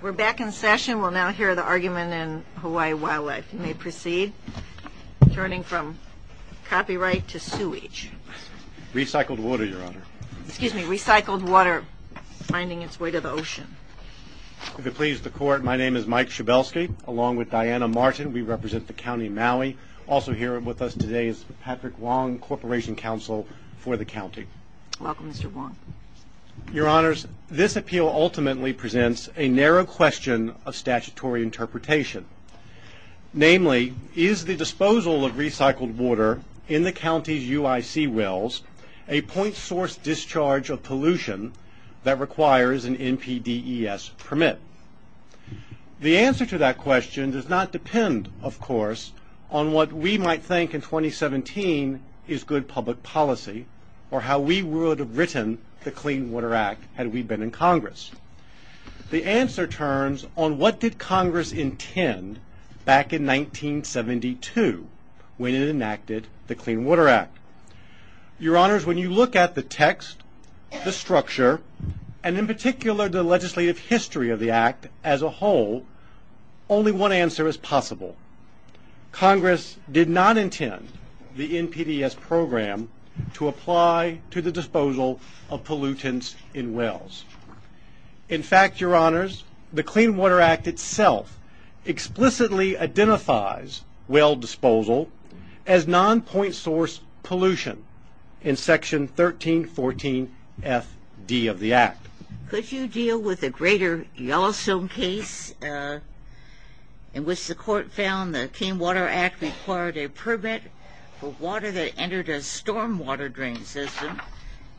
We're back in session. We'll now hear the argument in Hawaii Wildlife. You may proceed. Turning from copyright to sewage. Recycled water, Your Honor. Excuse me. Recycled water finding its way to the ocean. If it pleases the Court, my name is Mike Chabelski, along with Diana Martin. We represent the County of Maui. Also here with us today is Patrick Wong, Corporation Counsel for the County. Welcome, Mr. Wong. Your Honors, this appeal ultimately presents a narrow question of statutory interpretation. Namely, is the disposal of recycled water in the county's UIC wells a point source discharge of pollution that requires an NPDES permit? The answer to that question does not depend, of course, on what we might think in 2017 is good public policy or how we would have written the Clean Water Act had we been in Congress. The answer turns on what did Congress intend back in 1972 when it enacted the Clean Water Act. Your Honors, when you look at the text, the structure, and in particular the legislative history of the Act as a whole, only one answer is possible. Congress did not intend the NPDES program to apply to the disposal of pollutants in wells. In fact, Your Honors, the Clean Water Act itself explicitly identifies well disposal as non-point source pollution in Section 1314 F.D. of the Act. Could you deal with the Greater Yellowstone case in which the court found the Clean Water Act required a permit for water that entered a stormwater drain system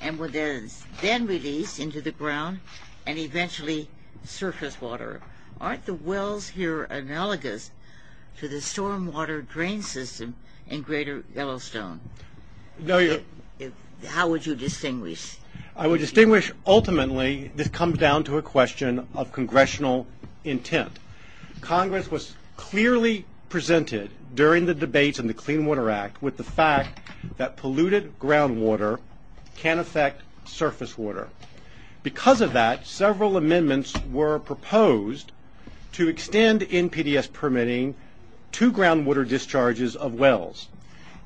and was then released into the ground and eventually surface water? Aren't the wells here analogous to the stormwater drain system in Greater Yellowstone? How would you distinguish? I would distinguish ultimately this comes down to a question of congressional intent. Congress was clearly presented during the debates in the Clean Water Act with the fact that polluted groundwater can affect surface water. Because of that, several amendments were proposed to extend NPDES permitting to groundwater discharges of wells.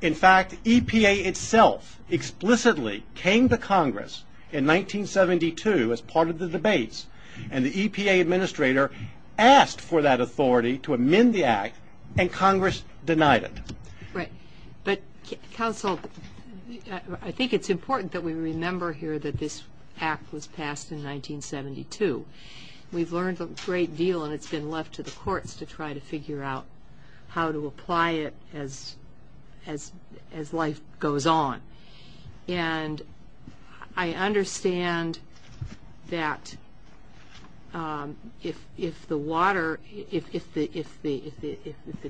In fact, EPA itself explicitly came to Congress in 1972 as part of the debates and the EPA administrator asked for that authority to amend the Act and Congress denied it. Right, but counsel, I think it's important that we remember here that this Act was passed in 1972. We've learned a great deal and it's been left to the courts to try to figure out how to apply it as life goes on. And I understand that if the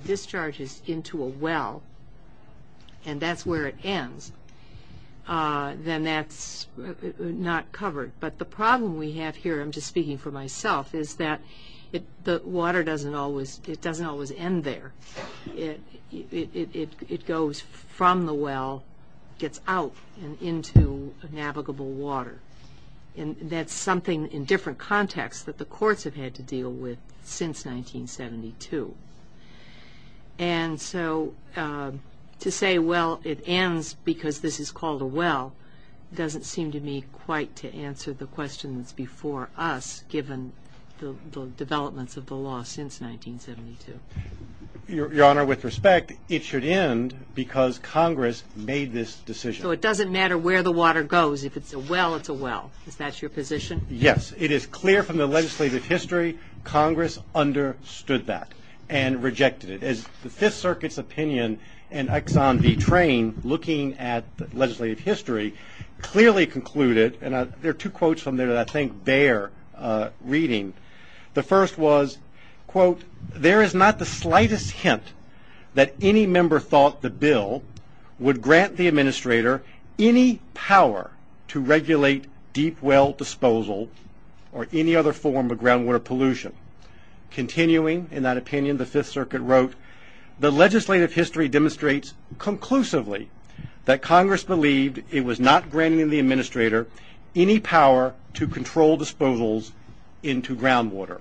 discharge is into a well and that's where it ends, then that's not covered. But the problem we have here, I'm just speaking for myself, is that the water doesn't always end there. It goes from the well, gets out and into navigable water. And that's something in different contexts that the courts have had to deal with since 1972. And so to say, well, it ends because this is called a well, doesn't seem to me quite to answer the questions before us, given the developments of the law since 1972. Your Honor, with respect, it should end because Congress made this decision. So it doesn't matter where the water goes. If it's a well, it's a well. Is that your position? Yes. It is clear from the legislative history, Congress understood that. And rejected it. As the Fifth Circuit's opinion and Exxon V. Train, looking at legislative history, clearly concluded, and there are two quotes from there that I think bear reading. The first was, quote, there is not the slightest hint that any member thought the bill would grant the administrator any power to regulate deep well disposal or any other form of groundwater pollution. Continuing in that opinion, the Fifth Circuit wrote, the legislative history demonstrates conclusively that Congress believed it was not granting the administrator any power to control disposals into groundwater.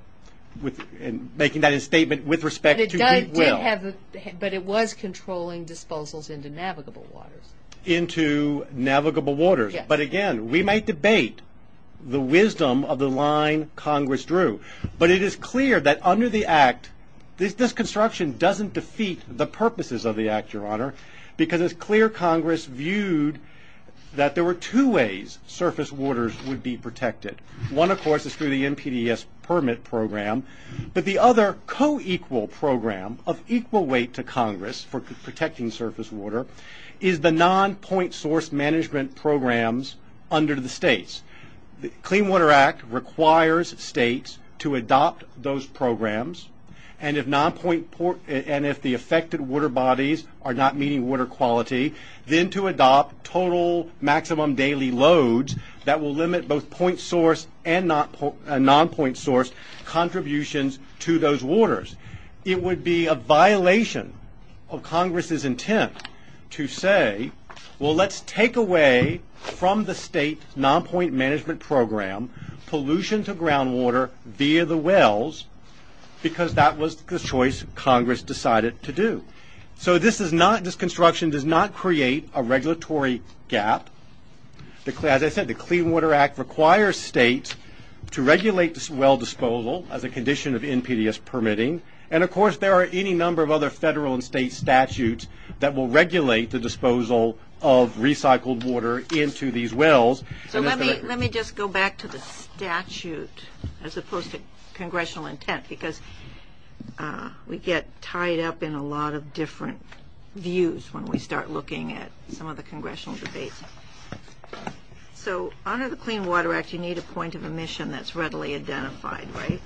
Making that a statement with respect to deep well. But it was controlling disposals into navigable waters. Into navigable waters. But again, we might debate the wisdom of the line Congress drew. But it is clear that under the Act, this construction doesn't defeat the purposes of the Act, Your Honor. Because it's clear Congress viewed that there were two ways surface waters would be protected. One, of course, is through the NPDES permit program. But the other co-equal program of equal weight to Congress for protecting surface water is the non-point source management programs under the states. The Clean Water Act requires states to adopt those programs. And if the affected water bodies are not meeting water quality, then to adopt total maximum daily loads that will limit both point source and non-point source contributions to those waters. It would be a violation of Congress's intent to say, well let's take away from the state non-point management program, pollution to groundwater via the wells. Because that was the choice Congress decided to do. So this is not, this construction does not create a regulatory gap. As I said, the Clean Water Act requires states to regulate this well disposal as a condition of NPDES permitting. And of course, there are any number of other federal and state statutes that will regulate the disposal of recycled water into these wells. So let me just go back to the statute as opposed to congressional intent. Because we get tied up in a lot of different views when we start looking at some of the congressional debates. So under the Clean Water Act, you need a point of emission that's readily identified, right?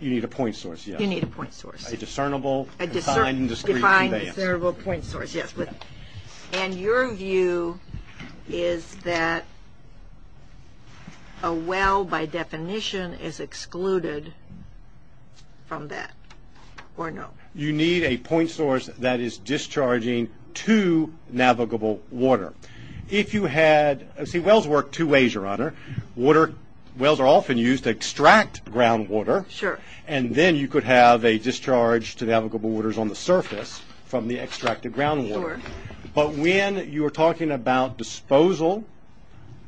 You need a point source, yes. You need a point source. A discernible, defined, and discrete advance. A defined, discernible point source, yes. And your view is that a well, by definition, is excluded from that, or no? You need a point source that is discharging to navigable water. If you had, see wells work two ways, Your Honor. Wells are often used to extract groundwater. Sure. And then you could have a discharge to navigable waters on the surface from the extracted groundwater. Sure. But when you are talking about disposal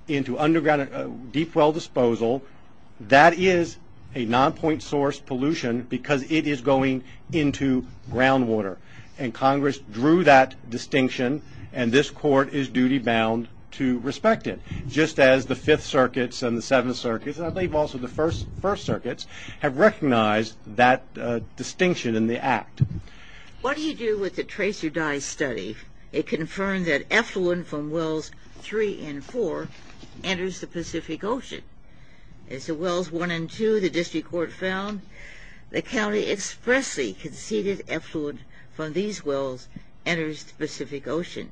into underground deep well disposal, that is a non-point source pollution because it is going into groundwater. And Congress drew that distinction, and this court is duty-bound to respect it. Just as the Fifth Circuits and the Seventh Circuits, and I believe also the First Circuits, have recognized that distinction in the act. What do you do with the Tracer Dye Study? It confirmed that effluent from wells three and four enters the Pacific Ocean. As to wells one and two, the district court found, the county expressly conceded effluent from these wells enters the Pacific Ocean.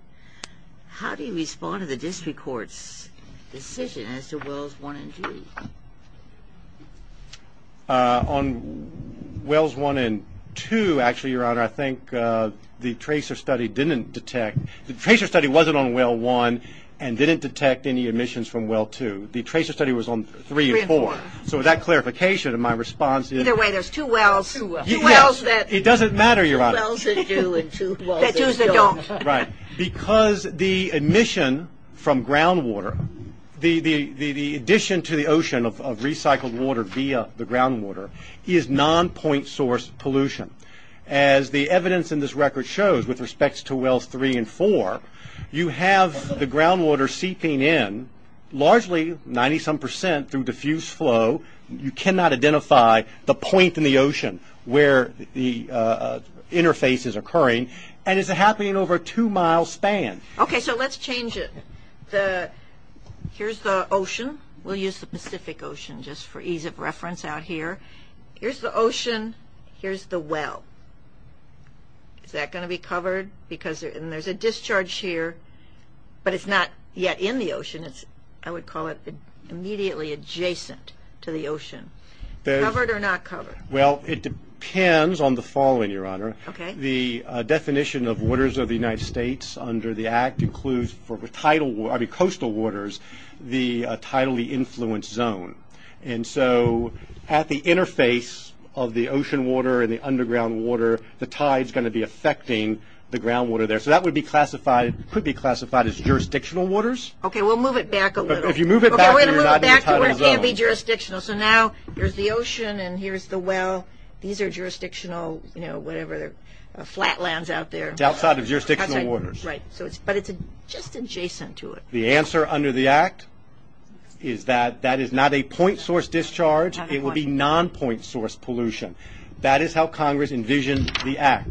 How do you respond to the district court's decision as to wells one and two? On wells one and two, actually, Your Honor, I think the Tracer Study didn't detect. The Tracer Study wasn't on well one and didn't detect any emissions from well two. The Tracer Study was on three and four. Three and four. So that clarification of my response is. Either way, there's two wells. Two wells. Two wells that. It doesn't matter, Your Honor. Two wells that do and two wells that don't. Right. Because the emission from groundwater, the addition to the ocean of recycled water via the groundwater, is non-point source pollution. As the evidence in this record shows with respect to wells three and four, you have the groundwater seeping in, largely, 90-some percent through diffuse flow. You cannot identify the point in the ocean where the interface is occurring. And it's happening over a two-mile span. Okay. So let's change it. Here's the ocean. We'll use the Pacific Ocean just for ease of reference out here. Here's the ocean. Here's the well. Is that going to be covered? And there's a discharge here, but it's not yet in the ocean. I would call it immediately adjacent to the ocean. Covered or not covered? Well, it depends on the following, Your Honor. Okay. The definition of waters of the United States under the Act includes, for coastal waters, the tidally influenced zone. And so at the interface of the ocean water and the underground water, the tide's going to be affecting the groundwater there. So that could be classified as jurisdictional waters. Okay. We'll move it back a little. If you move it back, you're not in the tidal zone. Okay. We're going to move it back to where it can be jurisdictional. So now here's the ocean and here's the well. These are jurisdictional, you know, whatever, flatlands out there. It's outside of jurisdictional waters. Right. But it's just adjacent to it. The answer under the Act is that that is not a point source discharge. It would be non-point source pollution. That is how Congress envisioned the Act.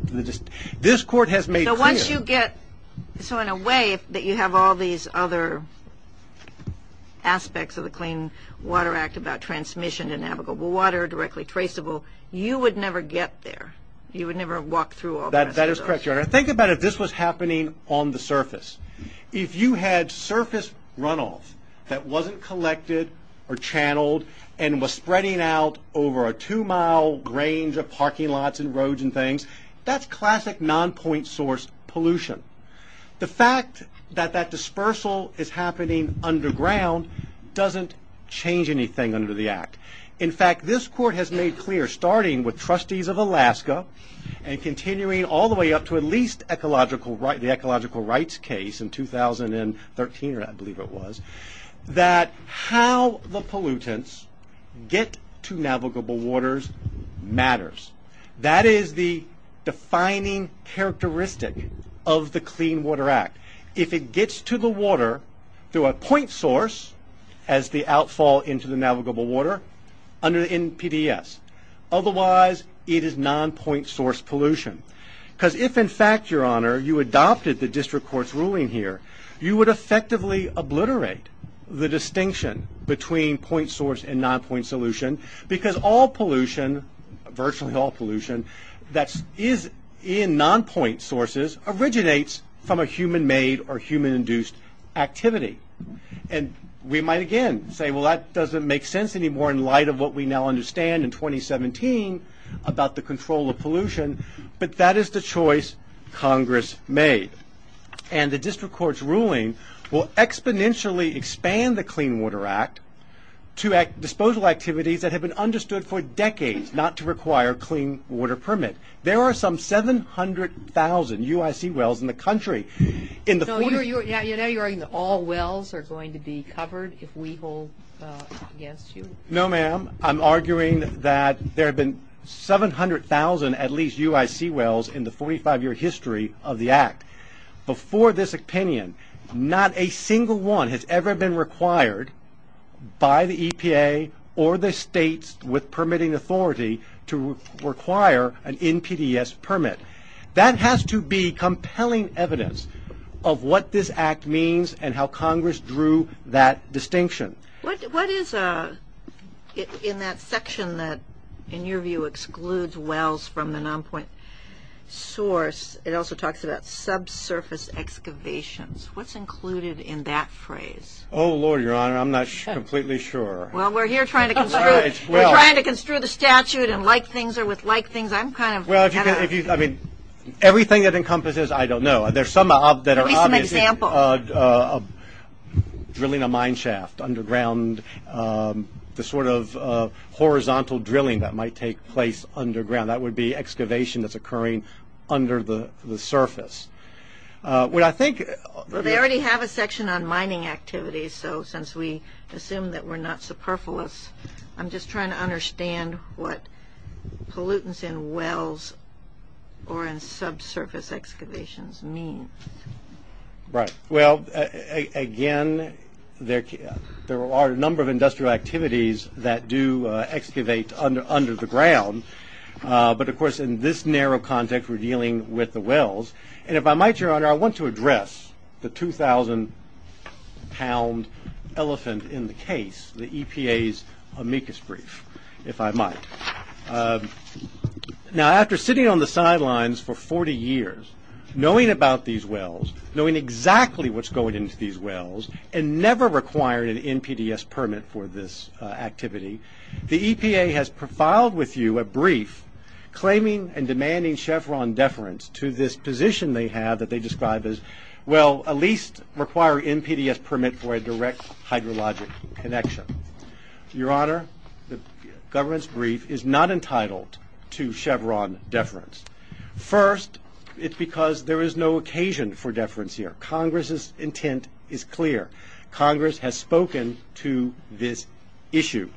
This Court has made clear. So once you get – so in a way that you have all these other aspects of the Clean Water Act about transmission and navigable water, directly traceable, you would never get there. You would never walk through all of those. That is correct, Your Honor. Think about if this was happening on the surface. If you had surface runoff that wasn't collected or channeled and was spreading out over a two-mile range of parking lots and roads and things, that's classic non-point source pollution. The fact that that dispersal is happening underground doesn't change anything under the Act. In fact, this Court has made clear, starting with Trustees of Alaska and continuing all the way up to at least the ecological rights case in 2013, I believe it was, that how the pollutants get to navigable waters matters. That is the defining characteristic of the Clean Water Act. If it gets to the water through a point source as the outfall into the navigable water in PDS. Otherwise, it is non-point source pollution. Because if, in fact, Your Honor, you adopted the District Court's ruling here, you would effectively obliterate the distinction between point source and non-point solution because all pollution, virtually all pollution that is in non-point sources originates from a human-made or human-induced activity. And we might again say, well, that doesn't make sense anymore in light of what we now understand in 2017 about the control of pollution, but that is the choice Congress made. And the District Court's ruling will exponentially expand the Clean Water Act to disposal activities that have been understood for decades not to require a clean water permit. There are some 700,000 UIC wells in the country. Now you're arguing that all wells are going to be covered if we hold against you? No, ma'am. I'm arguing that there have been 700,000 at least UIC wells in the 45-year history of the Act. Before this opinion, not a single one has ever been required by the EPA or the states with permitting authority to require an NPDES permit. That has to be compelling evidence of what this Act means and how Congress drew that distinction. What is in that section that, in your view, excludes wells from the non-point source? It also talks about subsurface excavations. What's included in that phrase? Oh, Lord, Your Honor, I'm not completely sure. Well, we're here trying to construe the statute and like things are with like things. I'm kind of kind of. Well, I mean, everything that encompasses, I don't know. There's some that are obvious. Give me some examples. Drilling a mine shaft underground, the sort of horizontal drilling that might take place underground. That would be excavation that's occurring under the surface. They already have a section on mining activities, so since we assume that we're not superfluous, I'm just trying to understand what pollutants in wells or in subsurface excavations mean. Right. Well, again, there are a number of industrial activities that do excavate under the ground. But, of course, in this narrow context, we're dealing with the wells. And if I might, Your Honor, I want to address the 2,000-pound elephant in the case, the EPA's amicus brief, if I might. Now, after sitting on the sidelines for 40 years, knowing about these wells, knowing exactly what's going into these wells, and never requiring an NPDES permit for this activity, the EPA has profiled with you a brief claiming and demanding Chevron deference to this position they have that they describe as, well, at least requiring NPDES permit for a direct hydrologic connection. Your Honor, the government's brief is not entitled to Chevron deference. First, it's because there is no occasion for deference here. Congress's intent is clear. Congress has spoken to this issue.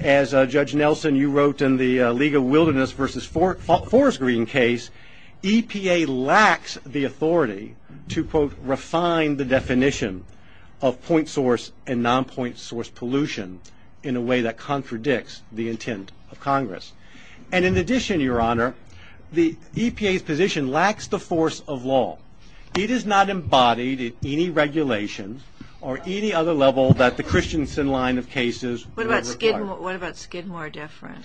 As, Judge Nelson, you wrote in the League of Wilderness versus Forest Green case, EPA lacks the authority to, quote, refine the definition of point source and non-point source pollution in a way that contradicts the intent of Congress. And in addition, Your Honor, the EPA's position lacks the force of law. It is not embodied in any regulation or any other level that the Christensen line of cases would require. What about Skidmore deference?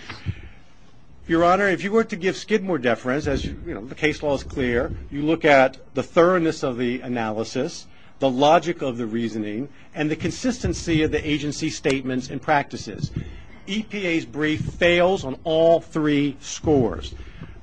Your Honor, if you were to give Skidmore deference, as the case law is clear, you look at the thoroughness of the analysis, the logic of the reasoning, and the consistency of the agency's statements and practices. EPA's brief fails on all three scores.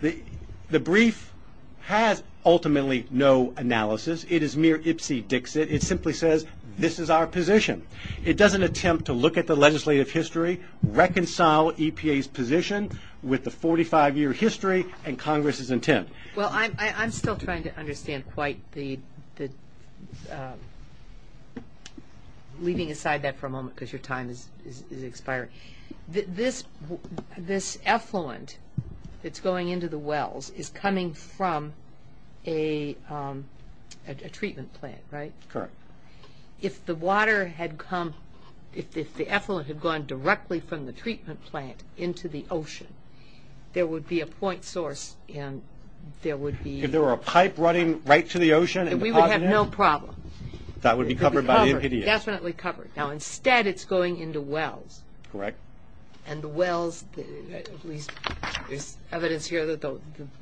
The brief has ultimately no analysis. It is mere ipsy-dixit. It simply says, this is our position. It doesn't attempt to look at the legislative history, reconcile EPA's position with the 45-year history and Congress's intent. Well, I'm still trying to understand quite the, leaving aside that for a moment because your time is expiring. This effluent that's going into the wells is coming from a treatment plant, right? Correct. If the water had come, if the effluent had gone directly from the treatment plant into the ocean, there would be a point source and there would be. If there were a pipe running right to the ocean. And we would have no problem. That would be covered by the NPA. Definitely covered. Now, instead, it's going into wells. Correct. And the wells, there's evidence here that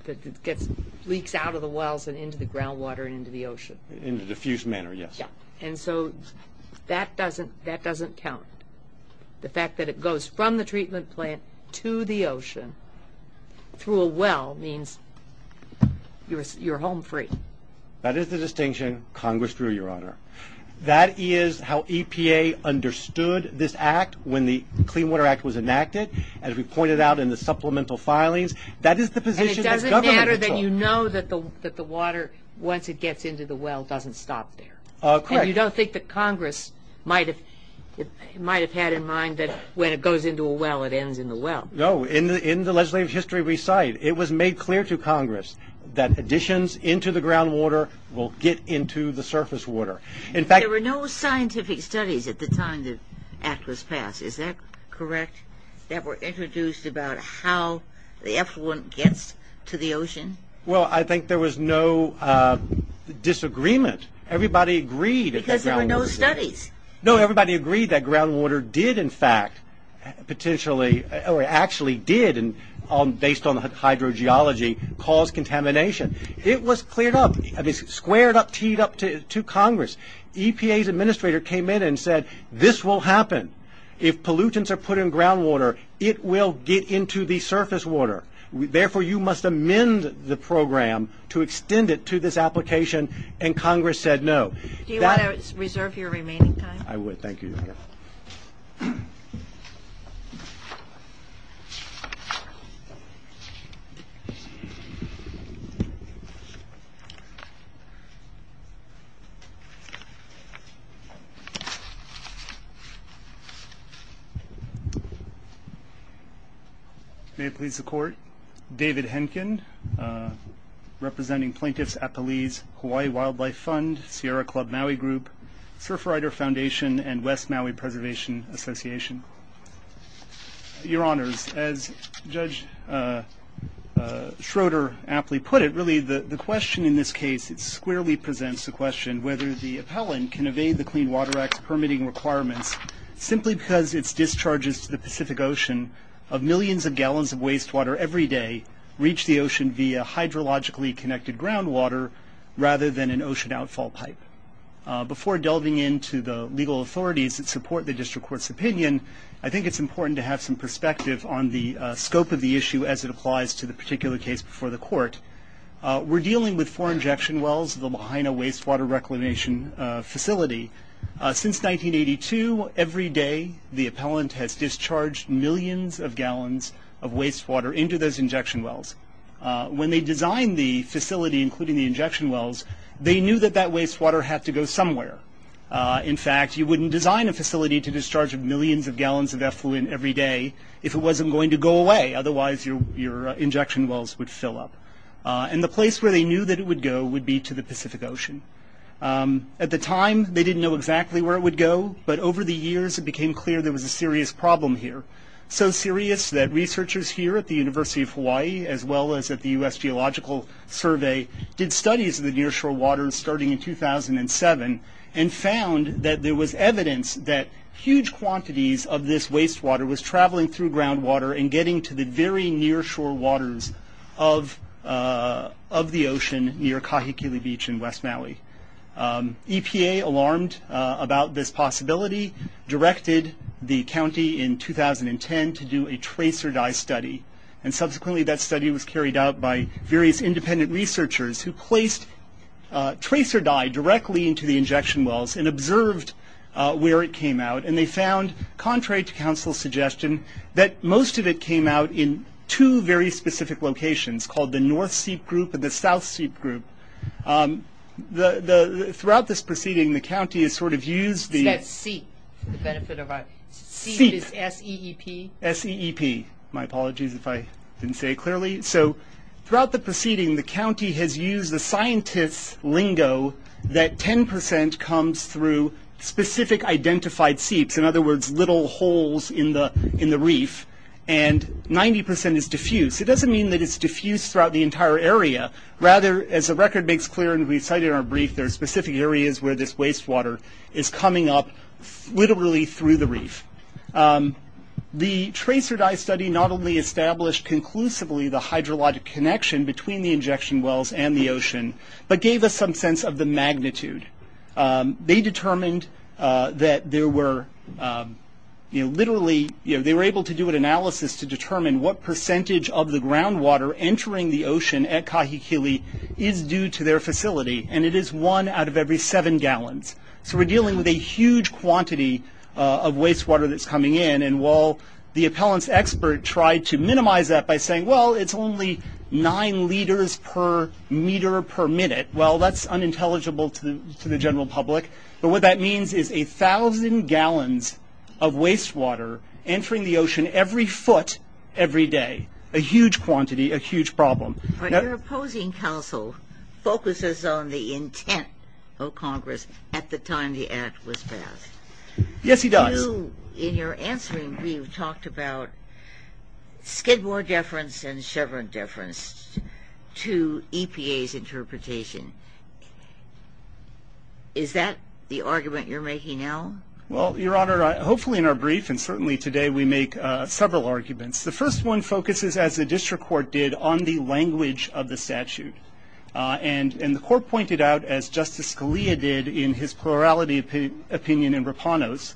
it leaks out of the wells and into the groundwater and into the ocean. In a diffused manner, yes. And so that doesn't count. The fact that it goes from the treatment plant to the ocean through a well means you're home free. That is the distinction Congress drew, Your Honor. That is how EPA understood this act when the Clean Water Act was enacted. As we pointed out in the supplemental filings, that is the position that government controlled. It's a matter that you know that the water, once it gets into the well, doesn't stop there. Correct. You don't think that Congress might have had in mind that when it goes into a well, it ends in the well. No. In the legislative history we cite, it was made clear to Congress that additions into the groundwater will get into the surface water. In fact, There were no scientific studies at the time the act was passed. Is that correct? That were introduced about how the effluent gets to the ocean? Well, I think there was no disagreement. Everybody agreed. Because there were no studies. No, everybody agreed that groundwater did, in fact, potentially or actually did, based on hydrogeology, cause contamination. It was cleared up, squared up, teed up to Congress. EPA's administrator came in and said, this will happen. If pollutants are put in groundwater, it will get into the surface water. Therefore, you must amend the program to extend it to this application, and Congress said no. Do you want to reserve your remaining time? I would. Thank you. May it please the Court. David Henkin, representing Plaintiffs' Appellees, Hawaii Wildlife Fund, Sierra Club Maui Group, Surfrider Foundation, and West Maui Preservation Association. Your Honors, as Judge Schroeder aptly put it, really the question in this case squarely presents the question whether the appellant can evade the Clean Water Act's permitting requirements simply because its discharges to the Pacific Ocean of millions of gallons of wastewater every day reach the ocean via hydrologically connected groundwater rather than an ocean outfall pipe. Before delving into the legal authorities that support the district court's opinion, I think it's important to have some perspective on the scope of the issue as it applies to the particular case before the court. We're dealing with four injection wells of the Lahaina Wastewater Reclamation Facility. Since 1982, every day the appellant has discharged millions of gallons of wastewater into those injection wells. When they designed the facility, including the injection wells, they knew that that wastewater had to go somewhere. In fact, you wouldn't design a facility to discharge millions of gallons of effluent every day if it wasn't going to go away. Otherwise, your injection wells would fill up. And the place where they knew that it would go would be to the Pacific Ocean. At the time, they didn't know exactly where it would go, but over the years, it became clear there was a serious problem here. So serious that researchers here at the University of Hawaii, as well as at the U.S. Geological Survey, did studies of the nearshore waters starting in 2007 and found that there was evidence that huge quantities of this wastewater was traveling through groundwater and getting to the very nearshore waters of the ocean near Kahikili Beach in West Maui. EPA, alarmed about this possibility, directed the county in 2010 to do a trace-or-die study. And subsequently, that study was carried out by various independent researchers who placed trace-or-die directly into the injection wells and observed where it came out. And they found, contrary to council's suggestion, that most of it came out in two very specific locations, called the North Seep Group and the South Seep Group. Throughout this proceeding, the county has sort of used the— Is that SEEP, for the benefit of our— SEEP. SEEP is S-E-E-P? S-E-E-P. My apologies if I didn't say it clearly. Throughout the proceeding, the county has used the scientist's lingo that 10% comes through specific identified seeps, in other words, little holes in the reef, and 90% is diffuse. It doesn't mean that it's diffuse throughout the entire area. Rather, as the record makes clear and we cited in our brief, there are specific areas where this wastewater is coming up literally through the reef. The trace-or-die study not only established conclusively the hydrologic connection between the injection wells and the ocean, but gave us some sense of the magnitude. They determined that there were literally— They were able to do an analysis to determine what percentage of the groundwater entering the ocean at Kahikili is due to their facility, and it is one out of every seven gallons. So we're dealing with a huge quantity of wastewater that's coming in, and while the appellant's expert tried to minimize that by saying, well, it's only nine liters per meter per minute, well, that's unintelligible to the general public. But what that means is a thousand gallons of wastewater entering the ocean every foot every day, a huge quantity, a huge problem. Your opposing counsel focuses on the intent of Congress at the time the act was passed. Yes, he does. In your answering, we've talked about Skidmore deference and Chevron deference to EPA's interpretation. Is that the argument you're making now? Well, Your Honor, hopefully in our brief and certainly today, we make several arguments. The first one focuses, as the district court did, on the language of the statute. And the court pointed out, as Justice Scalia did in his plurality opinion in Rapanos,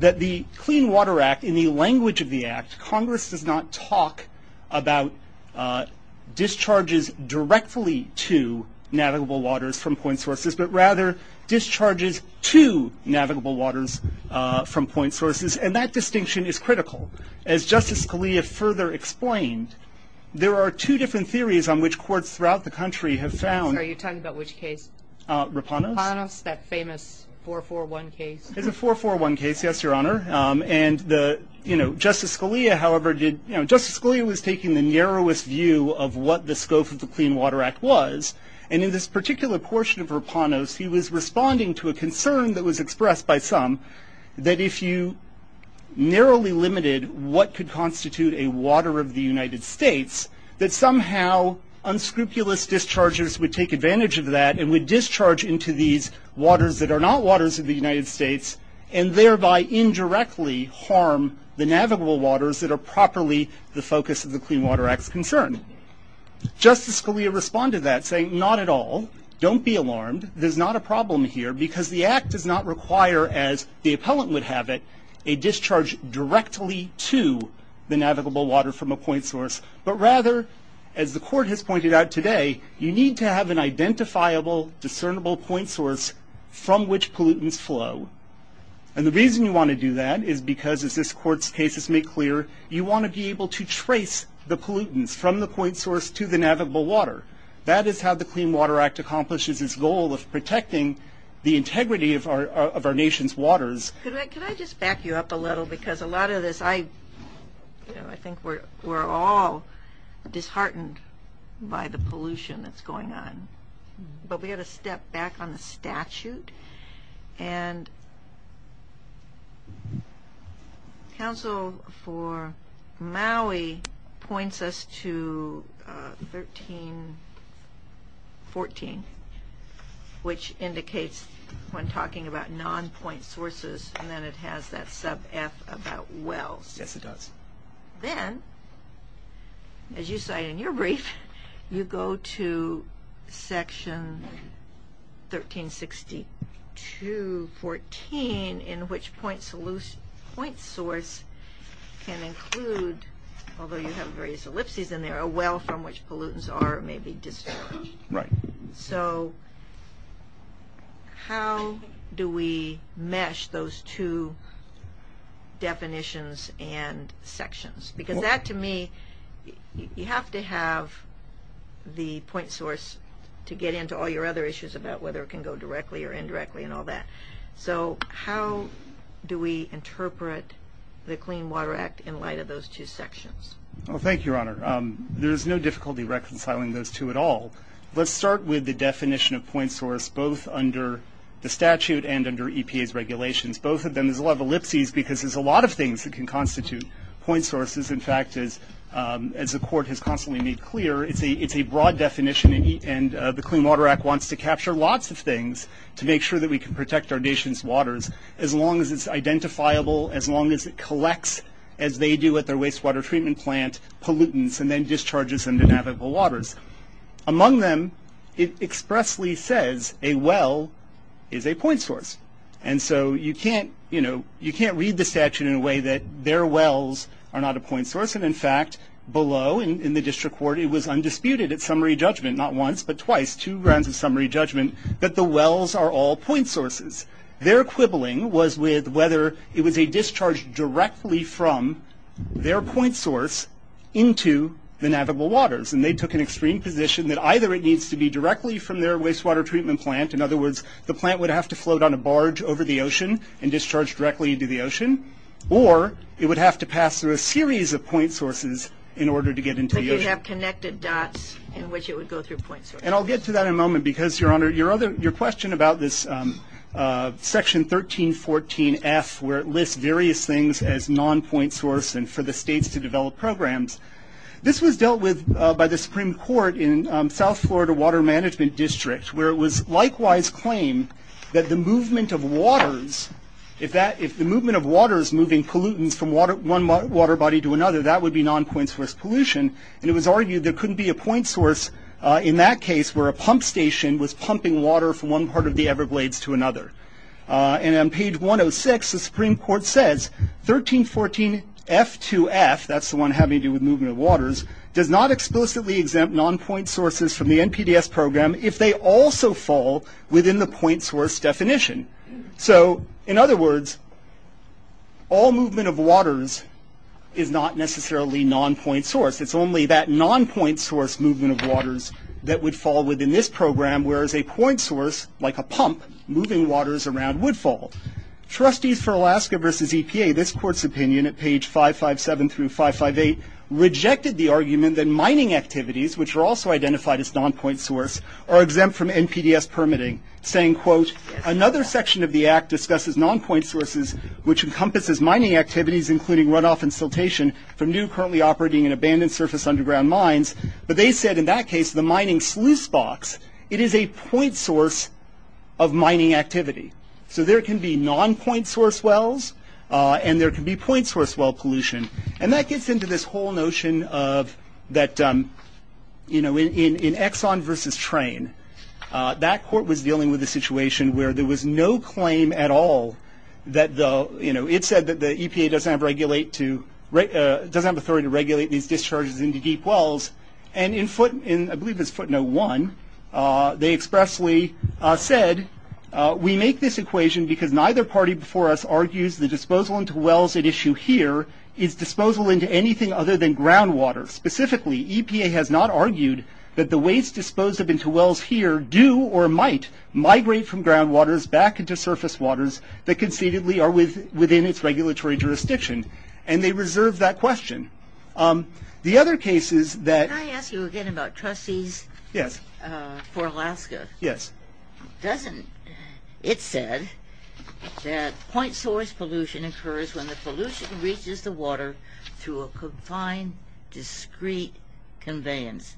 that the Clean Water Act, in the language of the act, Congress does not talk about discharges directly to navigable waters from point sources, but rather discharges to navigable waters from point sources, and that distinction is critical. As Justice Scalia further explained, there are two different theories on which courts throughout the country have found- Sorry, you're talking about which case? Rapanos. Rapanos, that famous 441 case. It's a 441 case, yes, Your Honor. And Justice Scalia, however, was taking the narrowest view of what the scope of the Clean Water Act was. And in this particular portion of Rapanos, he was responding to a concern that was expressed by some that if you narrowly limited what could constitute a water of the United States, that somehow unscrupulous discharges would take advantage of that and would discharge into these waters that are not waters of the United States and thereby indirectly harm the navigable waters that are properly the focus of the Clean Water Act's concern. Justice Scalia responded to that saying, not at all, don't be alarmed, there's not a problem here because the act does not require, as the appellant would have it, a discharge directly to the navigable water from a point source, but rather, as the court has pointed out today, you need to have an identifiable, discernible point source from which pollutants flow. And the reason you want to do that is because, as this court's cases make clear, you want to be able to trace the pollutants from the point source to the navigable water. That is how the Clean Water Act accomplishes its goal of protecting the integrity of our nation's waters. Could I just back you up a little because a lot of this, I think we're all disheartened by the pollution that's going on. But we've got to step back on the statute. And counsel for Maui points us to 1314, which indicates when talking about non-point sources, and then it has that sub-F about wells. Yes, it does. Then, as you cite in your brief, you go to section 1362.14, in which point source can include, although you have various ellipses in there, a well from which pollutants are maybe discharged. Right. So how do we mesh those two definitions and sections? Because that, to me, you have to have the point source to get into all your other issues about whether it can go directly or indirectly and all that. So how do we interpret the Clean Water Act in light of those two sections? Well, thank you, Your Honor. There's no difficulty reconciling those two at all. Let's start with the definition of point source, both under the statute and under EPA's regulations. Both of them, there's a lot of ellipses because there's a lot of things that can constitute point sources. In fact, as the Court has constantly made clear, it's a broad definition, and the Clean Water Act wants to capture lots of things to make sure that we can protect our nation's waters, as long as it's identifiable, as long as it collects, as they do at their wastewater treatment plant, pollutants and then discharges them to navigable waters. Among them, it expressly says a well is a point source. And so you can't, you know, you can't read the statute in a way that their wells are not a point source. And in fact, below in the district court, it was undisputed at summary judgment, not once but twice, two rounds of summary judgment, that the wells are all point sources. Their quibbling was with whether it was a discharge directly from their point source into the navigable waters. And they took an extreme position that either it needs to be directly from their wastewater treatment plant, in other words, the plant would have to float on a barge over the ocean and discharge directly into the ocean, or it would have to pass through a series of point sources in order to get into the ocean. But you'd have connected dots in which it would go through point sources. And I'll get to that in a moment because, Your Honor, your question about this section 1314F, where it lists various things as non-point source and for the states to develop programs, this was dealt with by the Supreme Court in South Florida Water Management District, where it was likewise claimed that the movement of waters, if the movement of water is moving pollutants from one water body to another, that would be non-point source pollution. And it was argued there couldn't be a point source in that case where a pump station was pumping water from one part of the Everglades to another. And on page 106, the Supreme Court says, 1314F2F, that's the one having to do with movement of waters, does not explicitly exempt non-point sources from the NPDES program if they also fall within the point source definition. So, in other words, all movement of waters is not necessarily non-point source. It's only that non-point source movement of waters that would fall within this program, whereas a point source, like a pump, moving waters around would fall. Trustees for Alaska versus EPA, this court's opinion at page 557 through 558, rejected the argument that mining activities, which are also identified as non-point source, are exempt from NPDES permitting, saying, quote, another section of the act discusses non-point sources, which encompasses mining activities including runoff and siltation from new currently operating and abandoned surface underground mines. But they said in that case, the mining sluice box, it is a point source of mining activity. So there can be non-point source wells, and there can be point source well pollution. And that gets into this whole notion of that, you know, in Exxon versus Train, that court was dealing with a situation where there was no claim at all that the, you know, it said that the EPA doesn't have authority to regulate these discharges into deep wells, and in, I believe it's footnote one, they expressly said, we make this equation because neither party before us argues the disposal into wells at issue here is disposal into anything other than groundwater. Specifically, EPA has not argued that the waste disposed up into wells here do or might migrate from groundwaters back into surface waters that concededly are within its regulatory jurisdiction. And they reserve that question. The other cases that... Can I ask you again about Truss Seas? Yes. For Alaska? Yes. Doesn't, it said that point source pollution occurs when the pollution reaches the water through a confined, discrete conveyance,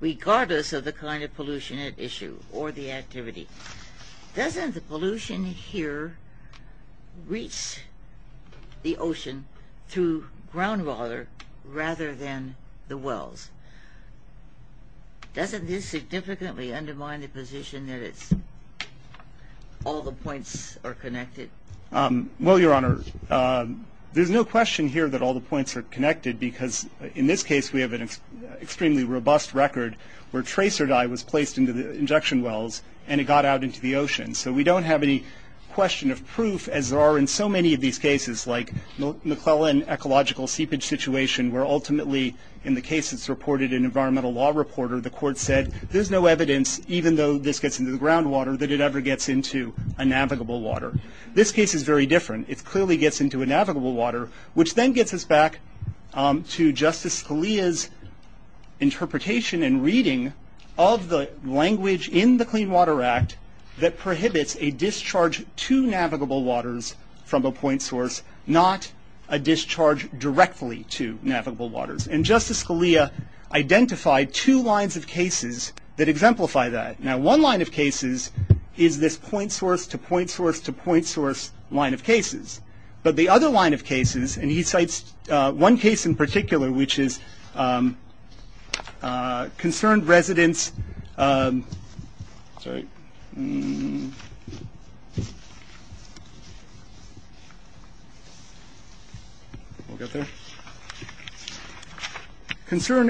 regardless of the kind of pollution at issue or the activity. Doesn't the pollution here reach the ocean through groundwater rather than the wells? Doesn't this significantly undermine the position that it's all the points are connected? Well, Your Honor, there's no question here that all the points are connected because in this case we have an extremely robust record where tracer dye was placed into the injection wells and it got out into the ocean. So we don't have any question of proof as there are in so many of these cases like McClellan ecological seepage situation where ultimately in the case that's reported in environmental law reporter, the court said there's no evidence, even though this gets into the groundwater, that it ever gets into a navigable water. This case is very different. It clearly gets into a navigable water, which then gets us back to Justice Scalia's interpretation and reading of the language in the Clean Water Act that prohibits a discharge to navigable waters from a point source, not a discharge directly to navigable waters. And Justice Scalia identified two lines of cases that exemplify that. Now one line of cases is this point source to point source to point source line of cases. But the other line of cases, and he cites one case in particular, which is concerned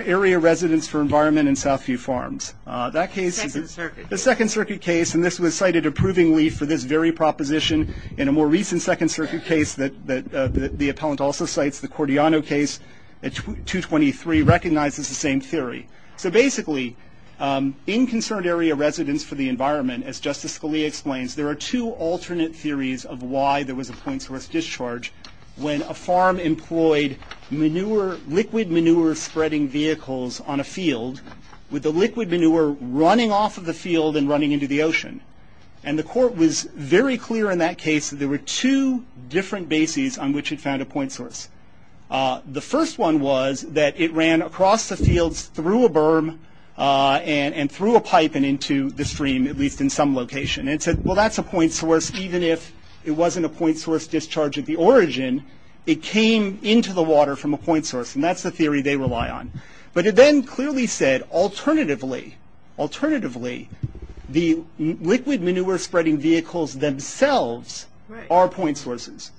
area residents for environment in Southview Farms. The Second Circuit case, and this was cited approvingly for this very proposition in a more recent Second Circuit case that the appellant also cites, the Cordiano case at 223 recognizes the same theory. So basically in concerned area residents for the environment, as Justice Scalia explains, there are two alternate theories of why there was a point source discharge when a farm employed liquid manure spreading vehicles on a field with the liquid manure running off of the field and running into the ocean. And the court was very clear in that case that there were two different bases on which it found a point source. The first one was that it ran across the fields through a berm and through a pipe and into the stream, at least in some location. And it said, well, that's a point source, even if it wasn't a point source discharge at the origin, it came into the water from a point source. And that's the theory they rely on. But it then clearly said, alternatively, the liquid manure spreading vehicles themselves are point sources.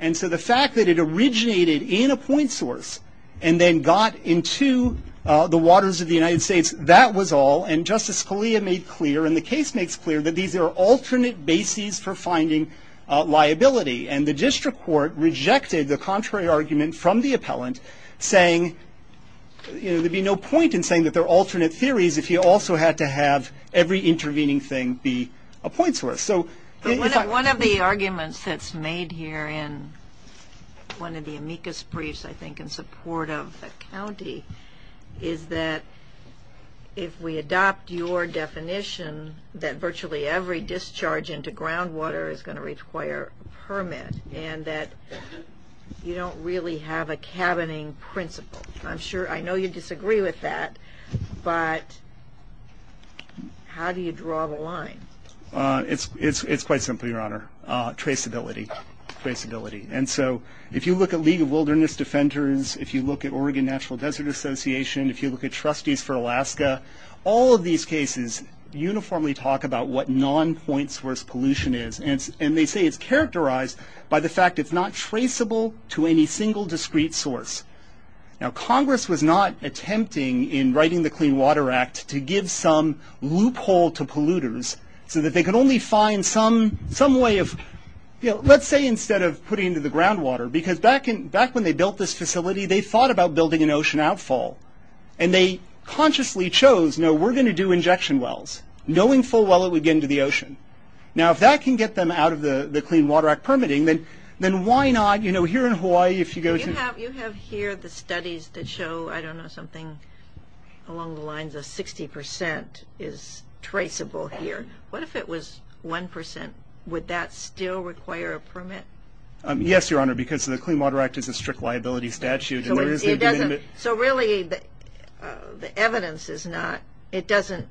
And so the fact that it originated in a point source and then got into the waters of the United States, that was all. And Justice Scalia made clear, and the case makes clear, that these are alternate bases for finding liability. And the district court rejected the contrary argument from the appellant, saying there'd be no point in saying that they're alternate theories if you also had to have every intervening thing be a point source. One of the arguments that's made here in one of the amicus briefs, I think in support of the county, is that if we adopt your definition that virtually every discharge into groundwater is going to require a permit and that you don't really have a cabining principle. I know you disagree with that, but how do you draw the line? It's quite simple, Your Honor. Traceability. And so if you look at League of Wilderness Defenders, if you look at Oregon Natural Desert Association, if you look at Trustees for Alaska, all of these cases uniformly talk about what non-point source pollution is. And they say it's characterized by the fact it's not traceable to any single discrete source. Now, Congress was not attempting, in writing the Clean Water Act, to give some loophole to polluters so that they could only find some way of, let's say instead of putting it into the groundwater, because back when they built this facility, they thought about building an ocean outfall. And they consciously chose, no, we're going to do injection wells, knowing full well it would get into the ocean. Now, if that can get them out of the Clean Water Act permitting, then why not, you know, here in Hawaii, if you go to the- You have here the studies that show, I don't know, something along the lines of 60% is traceable here. What if it was 1%? Would that still require a permit? Yes, Your Honor, because the Clean Water Act is a strict liability statute. So really the evidence is not, it doesn't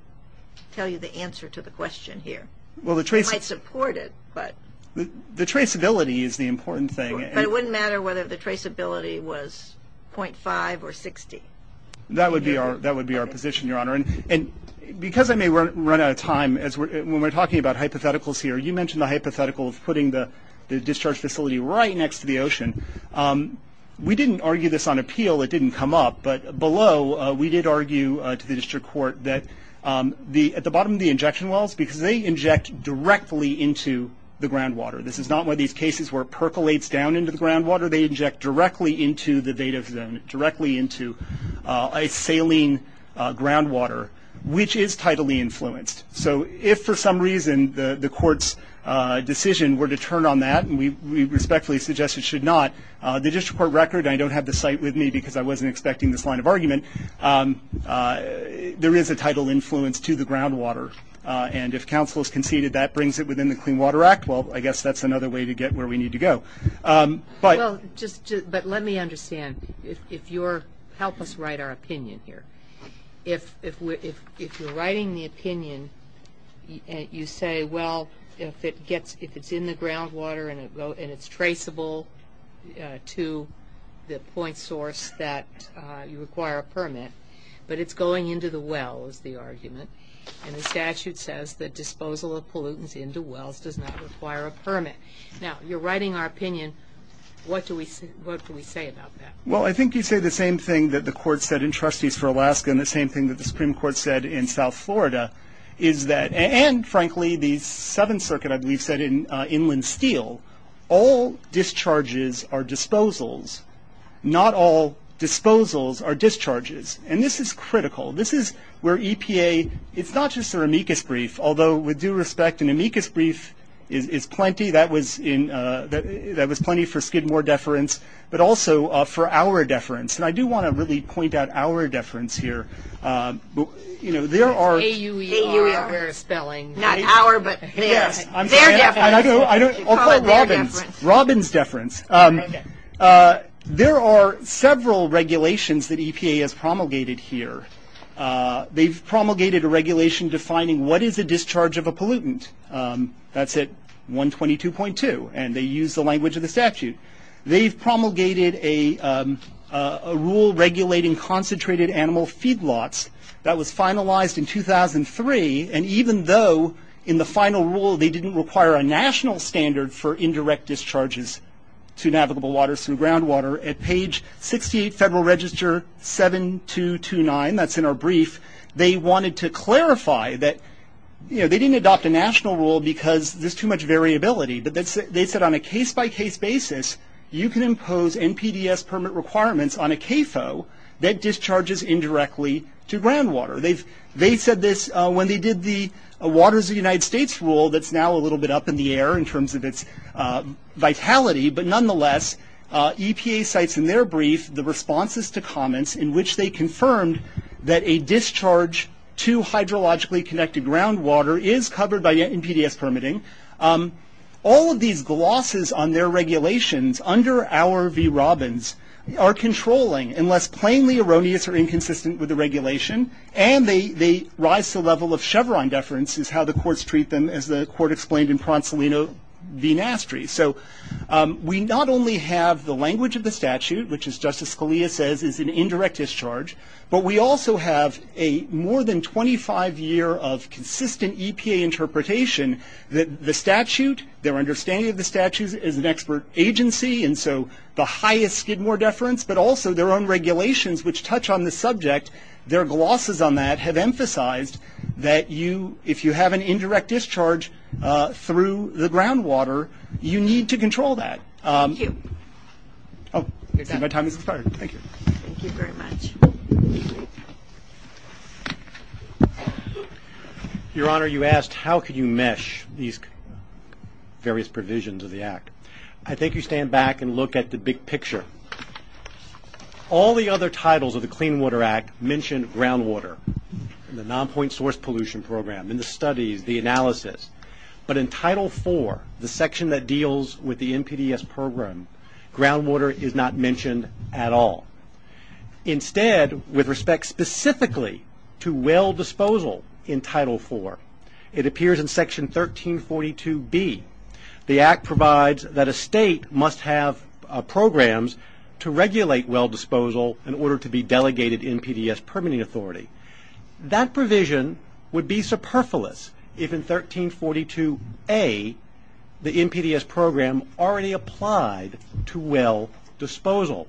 tell you the answer to the question here. It might support it, but- The traceability is the important thing. But it wouldn't matter whether the traceability was .5 or 60. That would be our position, Your Honor. And because I may run out of time, when we're talking about hypotheticals here, you mentioned the hypothetical of putting the discharge facility right next to the ocean. We didn't argue this on appeal. It didn't come up. But below, we did argue to the district court that at the bottom of the injection wells, because they inject directly into the groundwater. This is not one of these cases where it percolates down into the groundwater. They inject directly into the data zone, directly into a saline groundwater, which is tidally influenced. So if for some reason the court's decision were to turn on that, and we respectfully suggest it should not, the district court record, and I don't have the site with me because I wasn't expecting this line of argument, there is a tidal influence to the groundwater. And if counsel has conceded that brings it within the Clean Water Act, well, I guess that's another way to get where we need to go. But let me understand. Help us write our opinion here. If you're writing the opinion, you say, well, if it's in the groundwater and it's traceable to the point source that you require a permit, but it's going into the wells, the argument, and the statute says that disposal of pollutants into wells does not require a permit. Now, you're writing our opinion. What do we say about that? Well, I think you say the same thing that the court said in Trustees for Alaska and the same thing that the Supreme Court said in South Florida, and, frankly, the Seventh Circuit, I believe, said in Inland Steel, all discharges are disposals, not all disposals are discharges. And this is critical. This is where EPA, it's not just their amicus brief, although with due respect, an amicus brief is plenty. That was plenty for Skidmore deference, but also for our deference. And I do want to really point out our deference here. You know, there are... A-U-E-R. A-U-E-R is spelling. Not our, but their. Yes. Their deference. I'll call it Robin's. Call it their deference. Robin's deference. Okay. There are several regulations that EPA has promulgated here. They've promulgated a regulation defining what is a discharge of a pollutant. That's at 122.2, and they use the language of the statute. They've promulgated a rule regulating concentrated animal feedlots. That was finalized in 2003, and even though in the final rule they didn't require a national standard for indirect discharges to navigable waters and groundwater, at page 68, Federal Register 7229, that's in our brief, they wanted to clarify that, you know, they didn't adopt a national rule because there's too much variability, but they said on a case-by-case basis you can impose NPDES permit requirements on a CAFO that discharges indirectly to groundwater. They said this when they did the Waters of the United States rule that's now a little bit up in the air in terms of its vitality, but nonetheless EPA cites in their brief the responses to comments in which they confirmed that a discharge to hydrologically connected groundwater is covered by NPDES permitting. All of these glosses on their regulations under our V. Robbins are controlling unless plainly erroneous or inconsistent with the regulation, and they rise to the level of Chevron deference, is how the courts treat them as the court explained in Pronsolino v. Nastry. So we not only have the language of the statute, which as Justice Scalia says is an indirect discharge, but we also have a more than 25-year of consistent EPA interpretation that the statute, their understanding of the statute is an expert agency, and so the highest Skidmore deference, but also their own regulations which touch on the subject, their glosses on that have emphasized that if you have an indirect discharge through the groundwater, you need to control that. Thank you. My time has expired. Thank you. Thank you very much. Your Honor, you asked how can you mesh these various provisions of the Act. I think you stand back and look at the big picture. All the other titles of the Clean Water Act mention groundwater, the Nonpoint Source Pollution Program, and the studies, the analysis, but in Title IV, the section that deals with the NPDES program, groundwater is not mentioned at all. Instead, with respect specifically to well disposal in Title IV, it appears in Section 1342B. The Act provides that a state must have programs to regulate well disposal in order to be delegated NPDES permitting authority. That provision would be superfluous if in 1342A, the NPDES program already applied to well disposal.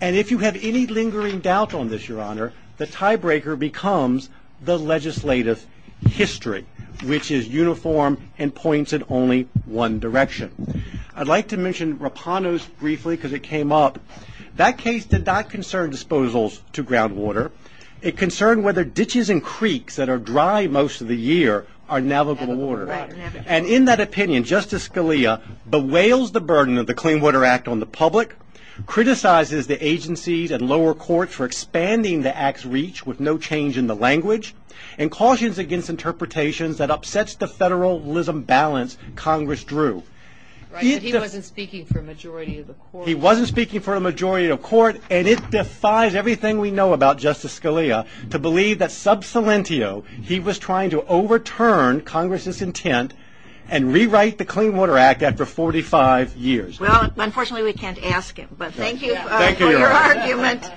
And if you have any lingering doubt on this, Your Honor, the tiebreaker becomes the legislative history, which is uniform and points in only one direction. I'd like to mention Rapanos briefly because it came up. That case did not concern disposals to groundwater. It concerned whether ditches and creeks that are dry most of the year are navigable water. And in that opinion, Justice Scalia bewails the burden of the Clean Water Act on the public, criticizes the agencies and lower courts for expanding the Act's reach with no change in the language, and cautions against interpretations that upsets the federalism balance Congress drew. He wasn't speaking for a majority of the court. He wasn't speaking for a majority of the court, and it defies everything we know about Justice Scalia to believe that sub salientio, he was trying to overturn Congress's intent and rewrite the Clean Water Act after 45 years. Well, unfortunately, we can't ask him. But thank you for your argument.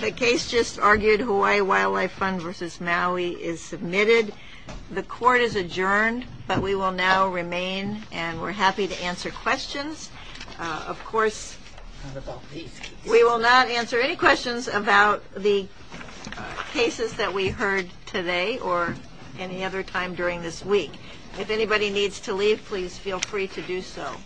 The case just argued, Hawaii Wildlife Fund v. Maui, is submitted. The court is adjourned, but we will now remain, and we're happy to answer questions. Of course, we will not answer any questions about the cases that we heard today or any other time during this week. If anybody needs to leave, please feel free to do so.